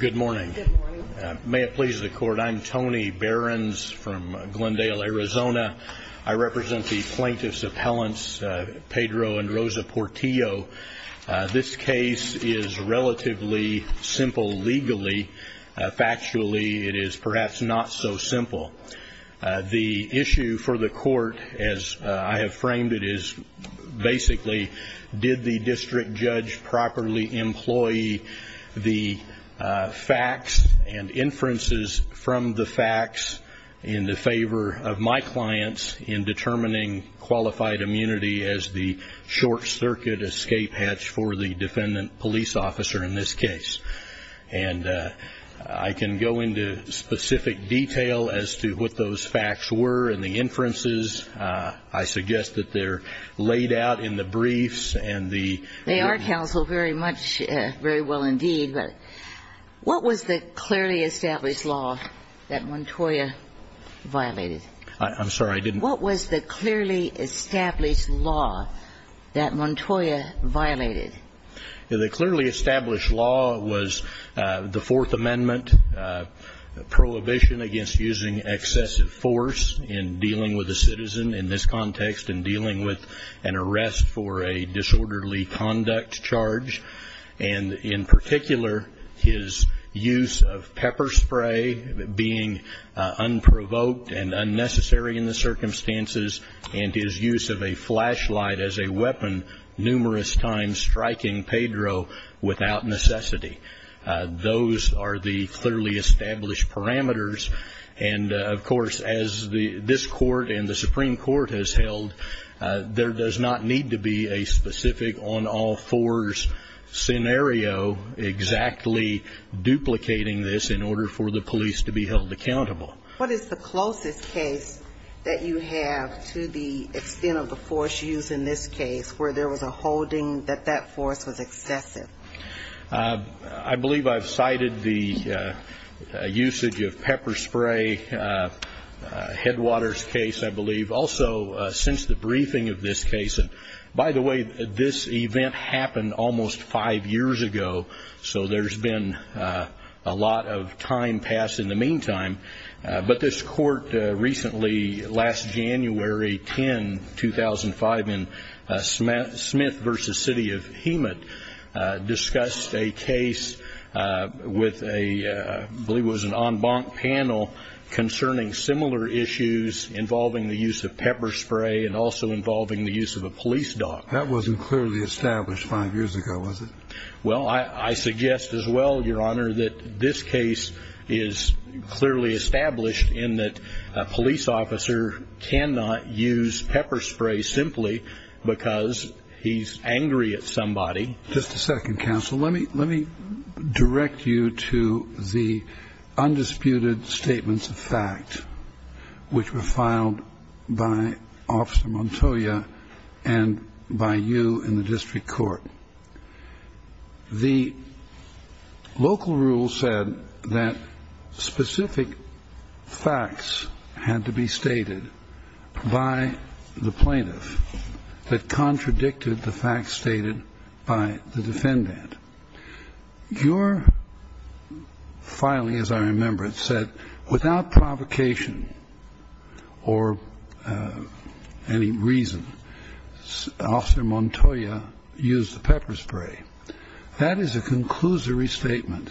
Good morning. May it please the court. I'm Tony Behrens from Glendale, Arizona. I represent the plaintiffs' appellants, Pedro and Rosa Portillo. This case is relatively simple legally. Factually, it is perhaps not so simple. The issue for the court, as I have framed it, is basically, did the district judge properly employ the facts and inferences from the facts in the favor of my clients in determining qualified immunity as the short-circuit escape hatch for the defendant police officer in this case. And I can go into specific detail as to what those facts were and the inferences. I suggest that they're laid out in the briefs. They are, counsel, very much, very well indeed. But what was the clearly established law that Montoya violated? I'm sorry, I didn't. What was the clearly established law that Montoya violated? The clearly established law was the Fourth Amendment, prohibition against using excessive force in dealing with a citizen in this context and dealing with an arrest for a disorderly conduct charge. And in particular, his use of pepper spray, being unprovoked and unnecessary in the circumstances, and his use of a flashlight as a weapon numerous times striking Pedro without necessity. Those are the clearly established parameters. And, of course, as this court and the Supreme Court has held, there does not need to be a specific on-all-fours scenario exactly duplicating this in order for the police to be held accountable. What is the closest case that you have to the extent of the force used in this case where there was a holding that that force was excessive? I believe I've cited the usage of pepper spray, Headwaters case, I believe. Also, since the briefing of this case, and by the way, this event happened almost five years ago, so there's been a lot of time passed in the meantime. But this court recently, last January 10, 2005, in Smith v. City of Hemet, discussed a case with a, I believe it was an en banc panel, concerning similar issues involving the use of pepper spray and also involving the use of a police dog. That wasn't clearly established five years ago, was it? Well, I suggest as well, Your Honor, that this case is clearly established in that a police officer cannot use pepper spray simply because he's angry at somebody. Just a second, counsel. Let me direct you to the undisputed statements of fact, which were filed by Officer Montoya and by you in the district court. The local rule said that specific facts had to be stated by the plaintiff that contradicted the facts stated by the defendant. Your filing, as I remember it, said, without provocation or any reason, Officer Montoya used the pepper spray. That is a conclusory statement.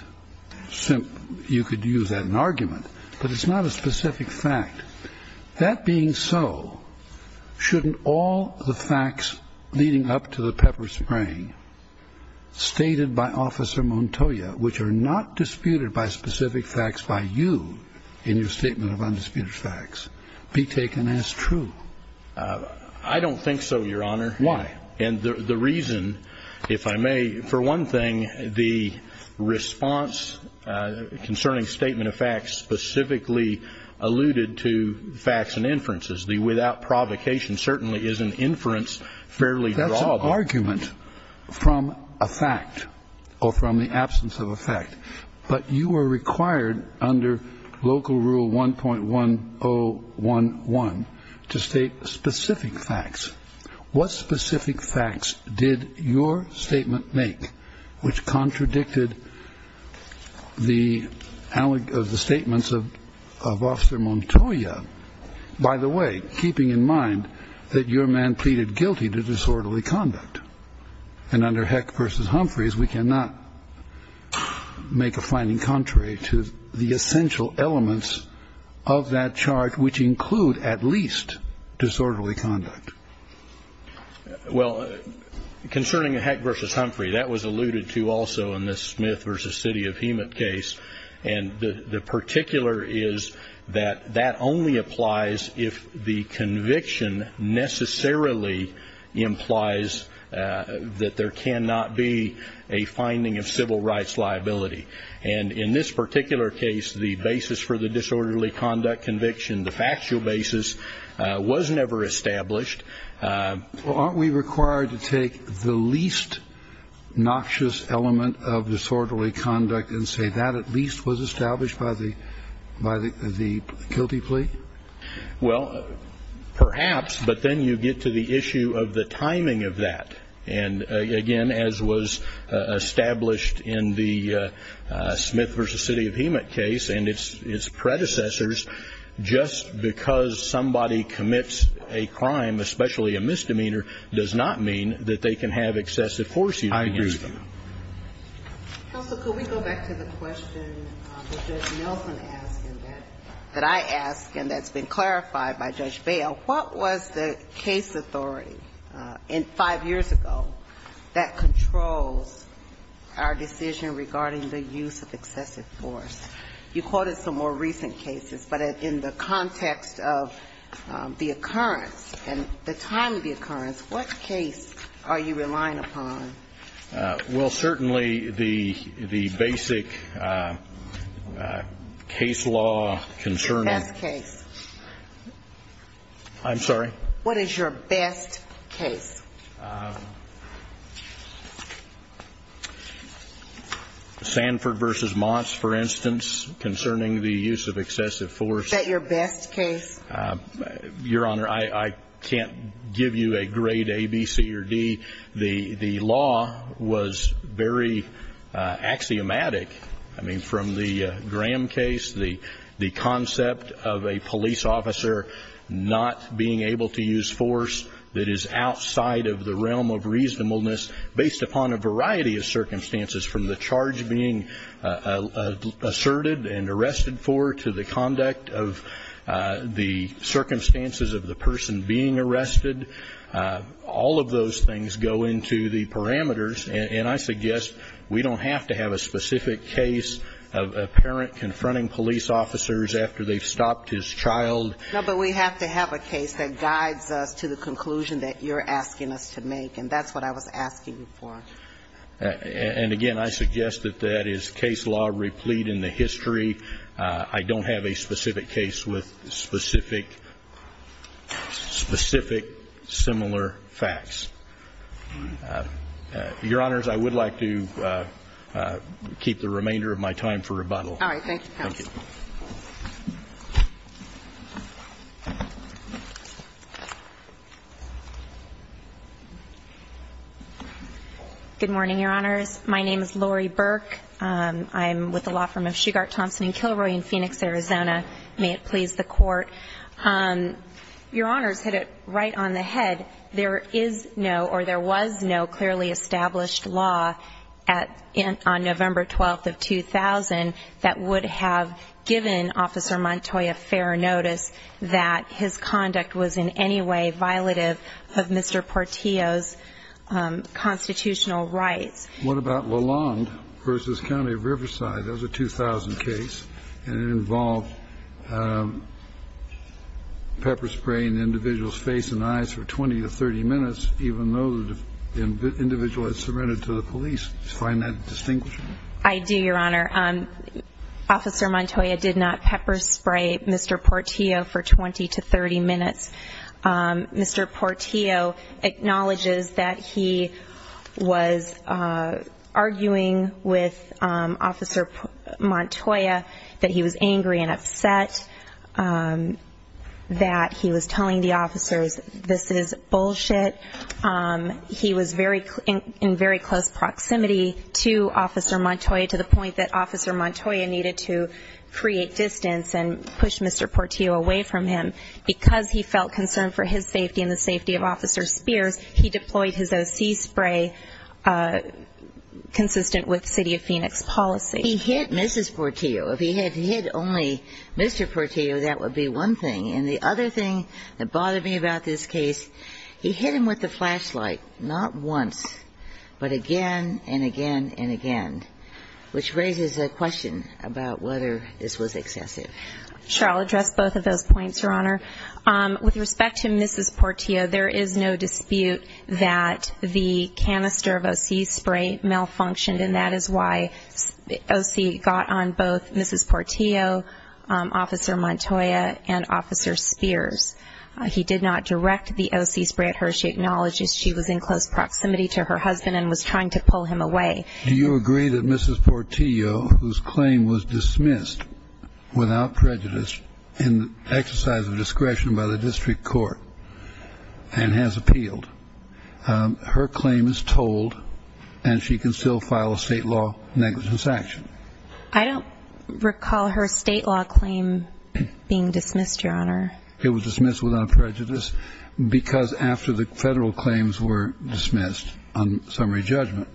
You could use that in argument, but it's not a specific fact. That being so, shouldn't all the facts leading up to the pepper spray stated by Officer Montoya, which are not disputed by specific facts by you in your statement of undisputed facts, be taken as true? I don't think so, Your Honor. Why? And the reason, if I may, for one thing, the response concerning statement of facts specifically alluded to facts and inferences. The without provocation certainly is an inference fairly drawable. That's an argument from a fact or from the absence of a fact. But you were required under local rule 1.1011 to state specific facts. What specific facts did your statement make which contradicted the statements of Officer Montoya, by the way, keeping in mind that your man pleaded guilty to disorderly conduct? And under Heck v. Humphreys, we cannot make a finding contrary to the essential elements of that charge, which include at least disorderly conduct. Well, concerning Heck v. Humphrey, that was alluded to also in the Smith v. City of Hemet case, and the particular is that that only applies if the conviction necessarily implies that there cannot be a finding of civil rights liability. And in this particular case, the basis for the disorderly conduct conviction, the factual basis, was never established. Well, aren't we required to take the least noxious element of disorderly conduct and say that at least was established by the guilty plea? Well, perhaps, but then you get to the issue of the timing of that. And, again, as was established in the Smith v. City of Hemet case and its predecessors, just because somebody commits a crime, especially a misdemeanor, does not mean that they can have excessive force used against them. I agree with you. Counsel, could we go back to the question that Judge Nelson asked and that I asked and that's been clarified by Judge Bail? What was the case authority in five years ago that controls our decision regarding the use of excessive force? You quoted some more recent cases, but in the context of the occurrence and the time of the occurrence, what case are you relying upon? Well, certainly the basic case law concerning the best case. I'm sorry? What is your best case? Sanford v. Motts, for instance, concerning the use of excessive force. Is that your best case? Your Honor, I can't give you a grade A, B, C, or D. The law was very axiomatic. I mean, from the Graham case, the concept of a police officer not being able to use force that is outside of the realm of reasonableness based upon a variety of circumstances, from the charge being asserted and arrested for to the conduct of the circumstances of the person being arrested, all of those things go into the parameters, and I suggest we don't have to have a specific case of a parent confronting police officers after they've stopped his child. No, but we have to have a case that guides us to the conclusion that you're asking us to make, and that's what I was asking you for. And, again, I suggest that that is case law replete in the history. I don't have a specific case with specific similar facts. Your Honors, I would like to keep the remainder of my time for rebuttal. All right. Thank you, counsel. Thank you. Good morning, Your Honors. My name is Lori Burke. I'm with the law firm of Shugart, Thompson & Kilroy in Phoenix, Arizona. May it please the Court. Your Honors hit it right on the head. There is no or there was no clearly established law on November 12th of 2000 that would have given Officer Montoy a fair notice that his conduct was in any way violative of Mr. Portillo's constitutional rights. What about Lalonde v. County of Riverside? That was a 2000 case, and it involved pepper-spraying the individual's face and eyes for 20 to 30 minutes, even though the individual had surrendered to the police. Do you find that distinguishable? I do, Your Honor. Officer Montoya did not pepper-spray Mr. Portillo for 20 to 30 minutes. Mr. Portillo acknowledges that he was arguing with Officer Montoya, that he was angry and upset, that he was telling the officers this is bullshit. He was in very close proximity to Officer Montoya to the point that Officer Montoya needed to create distance and push Mr. Portillo away from him. Because he felt concerned for his safety and the safety of Officer Spears, he deployed his O.C. spray consistent with City of Phoenix policy. He hit Mrs. Portillo. If he had hit only Mr. Portillo, that would be one thing. And the other thing that bothered me about this case, he hit him with a flashlight, not once, but again and again and again, which raises a question about whether this was excessive. Sure. I'll address both of those points, Your Honor. With respect to Mrs. Portillo, there is no dispute that the canister of O.C. spray malfunctioned, and that is why O.C. got on both Mrs. Portillo, Officer Montoya, and Officer Spears. He did not direct the O.C. spray at her. She acknowledges she was in close proximity to her husband and was trying to pull him away. Do you agree that Mrs. Portillo, whose claim was dismissed without prejudice in exercise of discretion by the district court and has appealed, her claim is told and she can still file a state law negligence action? I don't recall her state law claim being dismissed, Your Honor. It was dismissed without prejudice because after the federal claims were dismissed on summary judgment,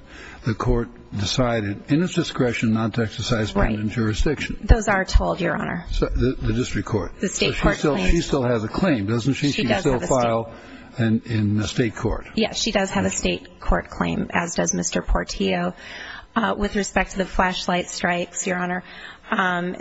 the court decided in its discretion not to exercise permanent jurisdiction. Right. Those are told, Your Honor. The district court. The state court claims. She still has a claim, doesn't she? She does have a state. She can still file in the state court. Yes, she does have a state court claim, as does Mr. Portillo. With respect to the flashlight strikes, Your Honor,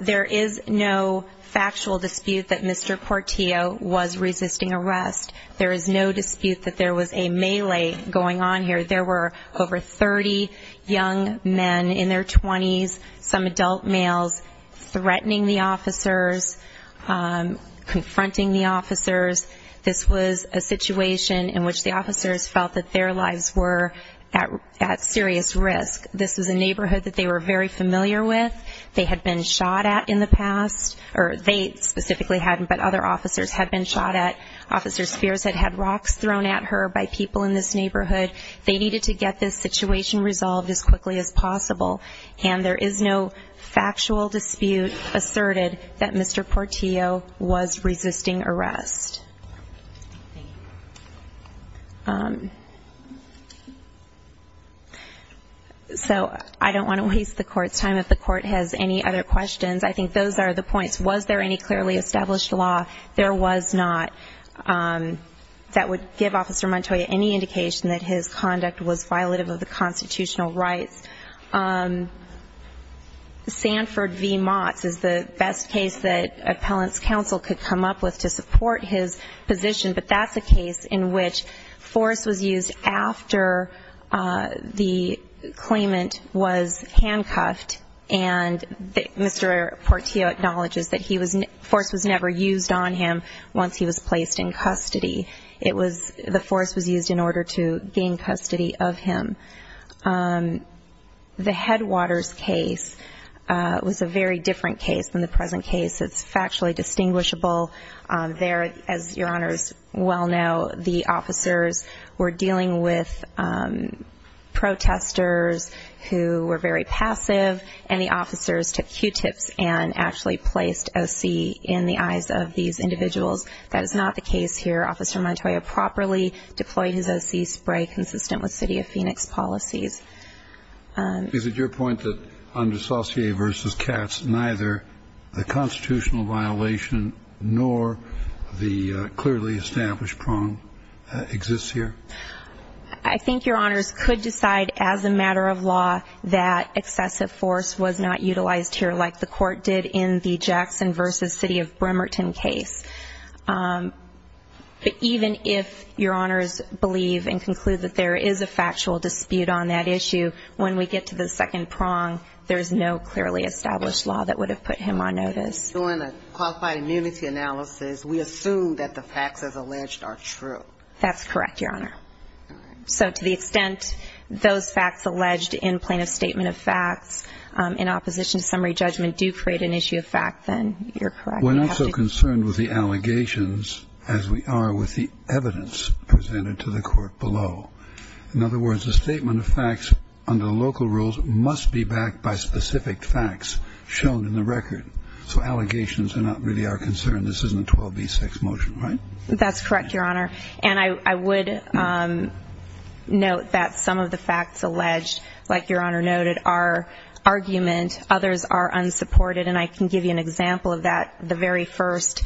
there is no factual dispute that Mr. Portillo was resisting arrest. There is no dispute that there was a melee going on here. There were over 30 young men in their 20s, some adult males, threatening the officers, confronting the officers. This was a situation in which the officers felt that their lives were at serious risk. This was a neighborhood that they were very familiar with. They had been shot at in the past, or they specifically hadn't, but other officers had been shot at. Officer Spears had had rocks thrown at her by people in this neighborhood. They needed to get this situation resolved as quickly as possible, and there is no factual dispute asserted that Mr. Portillo was resisting arrest. So I don't want to waste the Court's time. If the Court has any other questions, I think those are the points. Was there any clearly established law? There was not. That would give Officer Montoya any indication that his conduct was violative of the constitutional rights. Sanford v. Motts is the best case that appellant's counsel could come up with to support his position, but that's a case in which force was used after the claimant was handcuffed, and Mr. Portillo acknowledges that force was never used on him once he was placed in custody. The force was used in order to gain custody of him. The Headwaters case was a very different case than the present case. It's factually distinguishable. There, as Your Honors well know, the officers were dealing with protesters who were very passive, and the officers took Q-tips and actually placed O.C. in the eyes of these individuals. That is not the case here. Officer Montoya properly deployed his O.C. spray consistent with City of Phoenix policies. Is it your point that under Saucier v. Katz neither the constitutional violation nor the clearly established prong exists here? I think Your Honors could decide as a matter of law that excessive force was not utilized here like the Court did in the Jackson v. City of Bremerton case. But even if Your Honors believe and conclude that there is a factual dispute on that issue, when we get to the second prong, there is no clearly established law that would have put him on notice. So in a qualified immunity analysis, we assume that the facts as alleged are true? That's correct, Your Honor. So to the extent those facts alleged in plaintiff's statement of facts in opposition to summary judgment do create an issue of fact, then you're correct. We're not so concerned with the allegations as we are with the evidence presented to the Court below. In other words, the statement of facts under the local rules must be backed by specific facts shown in the record. So allegations are not really our concern. This isn't a 12b6 motion, right? That's correct, Your Honor. And I would note that some of the facts alleged, like Your Honor noted, are argument. Others are unsupported. And I can give you an example of that. The very first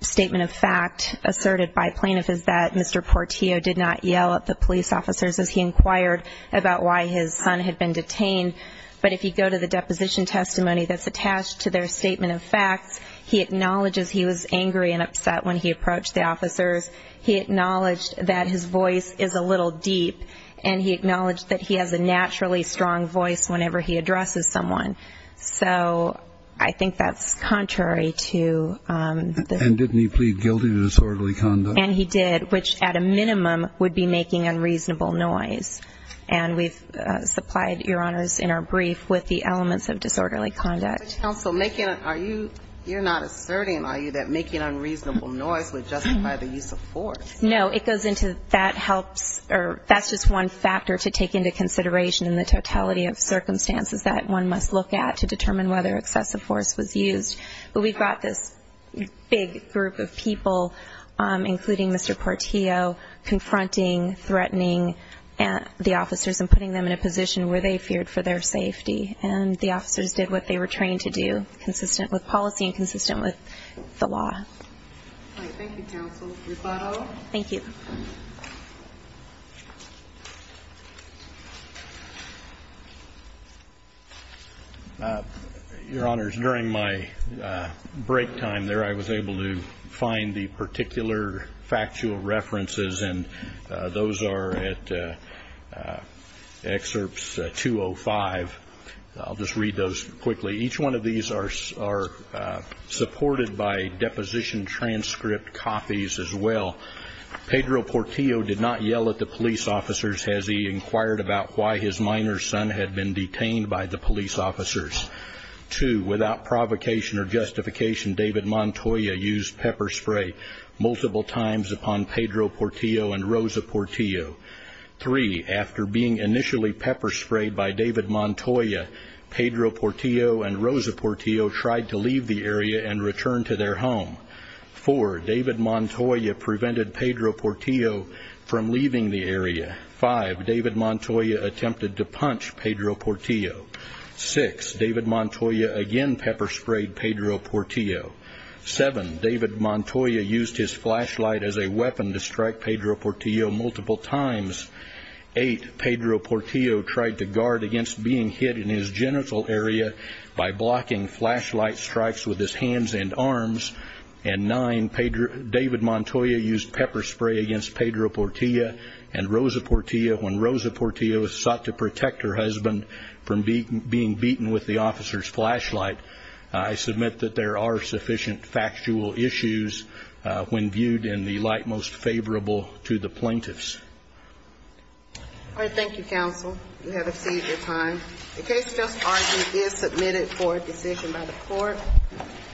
statement of fact asserted by plaintiff is that Mr. Portillo did not yell at the police officers as he inquired about why his son had been detained. But if you go to the deposition testimony that's attached to their statement of facts, he acknowledges he was angry and upset when he approached the officers. He acknowledged that his voice is a little deep, and he acknowledged that he has a naturally strong voice whenever he addresses someone. So I think that's contrary to the ---- And didn't he plead guilty to disorderly conduct? And he did, which at a minimum would be making unreasonable noise. And we've supplied, Your Honors, in our brief with the elements of disorderly conduct. But, Counsel, you're not asserting, are you, that making unreasonable noise would justify the use of force? No. It goes into that helps or that's just one factor to take into consideration in the totality of circumstances that one must look at to determine whether excessive force was used. But we've got this big group of people, including Mr. Portillo, confronting, threatening the officers and putting them in a position where they feared for their safety. And the officers did what they were trained to do, consistent with policy and consistent with the law. All right. Thank you, Counsel. Your thought all? Thank you. Your Honors, during my break time there, I was able to find the particular factual references, and those are at Excerpts 205. I'll just read those quickly. Each one of these are supported by deposition transcript copies as well. Pedro Portillo did not yell at the police officers as he inquired about why his minor son had been detained by the police officers. Two, without provocation or justification, David Montoya used pepper spray multiple times upon Pedro Portillo and Rosa Portillo. Three, after being initially pepper sprayed by David Montoya, Pedro Portillo and Rosa Portillo tried to leave the area and return to their home. Four, David Montoya prevented Pedro Portillo from leaving the area. Five, David Montoya attempted to punch Pedro Portillo. Six, David Montoya again pepper sprayed Pedro Portillo. Seven, David Montoya used his flashlight as a weapon to strike Pedro Portillo multiple times. Eight, Pedro Portillo tried to guard against being hit in his genital area by blocking flashlight strikes with his hands and arms. And nine, David Montoya used pepper spray against Pedro Portillo and Rosa Portillo when Rosa Portillo sought to protect her husband from being beaten with the officer's flashlight. I submit that there are sufficient factual issues when viewed in the light most favorable to the plaintiffs. All right. Thank you, counsel. You have exceeded your time. The case just argued is submitted for a decision by the court.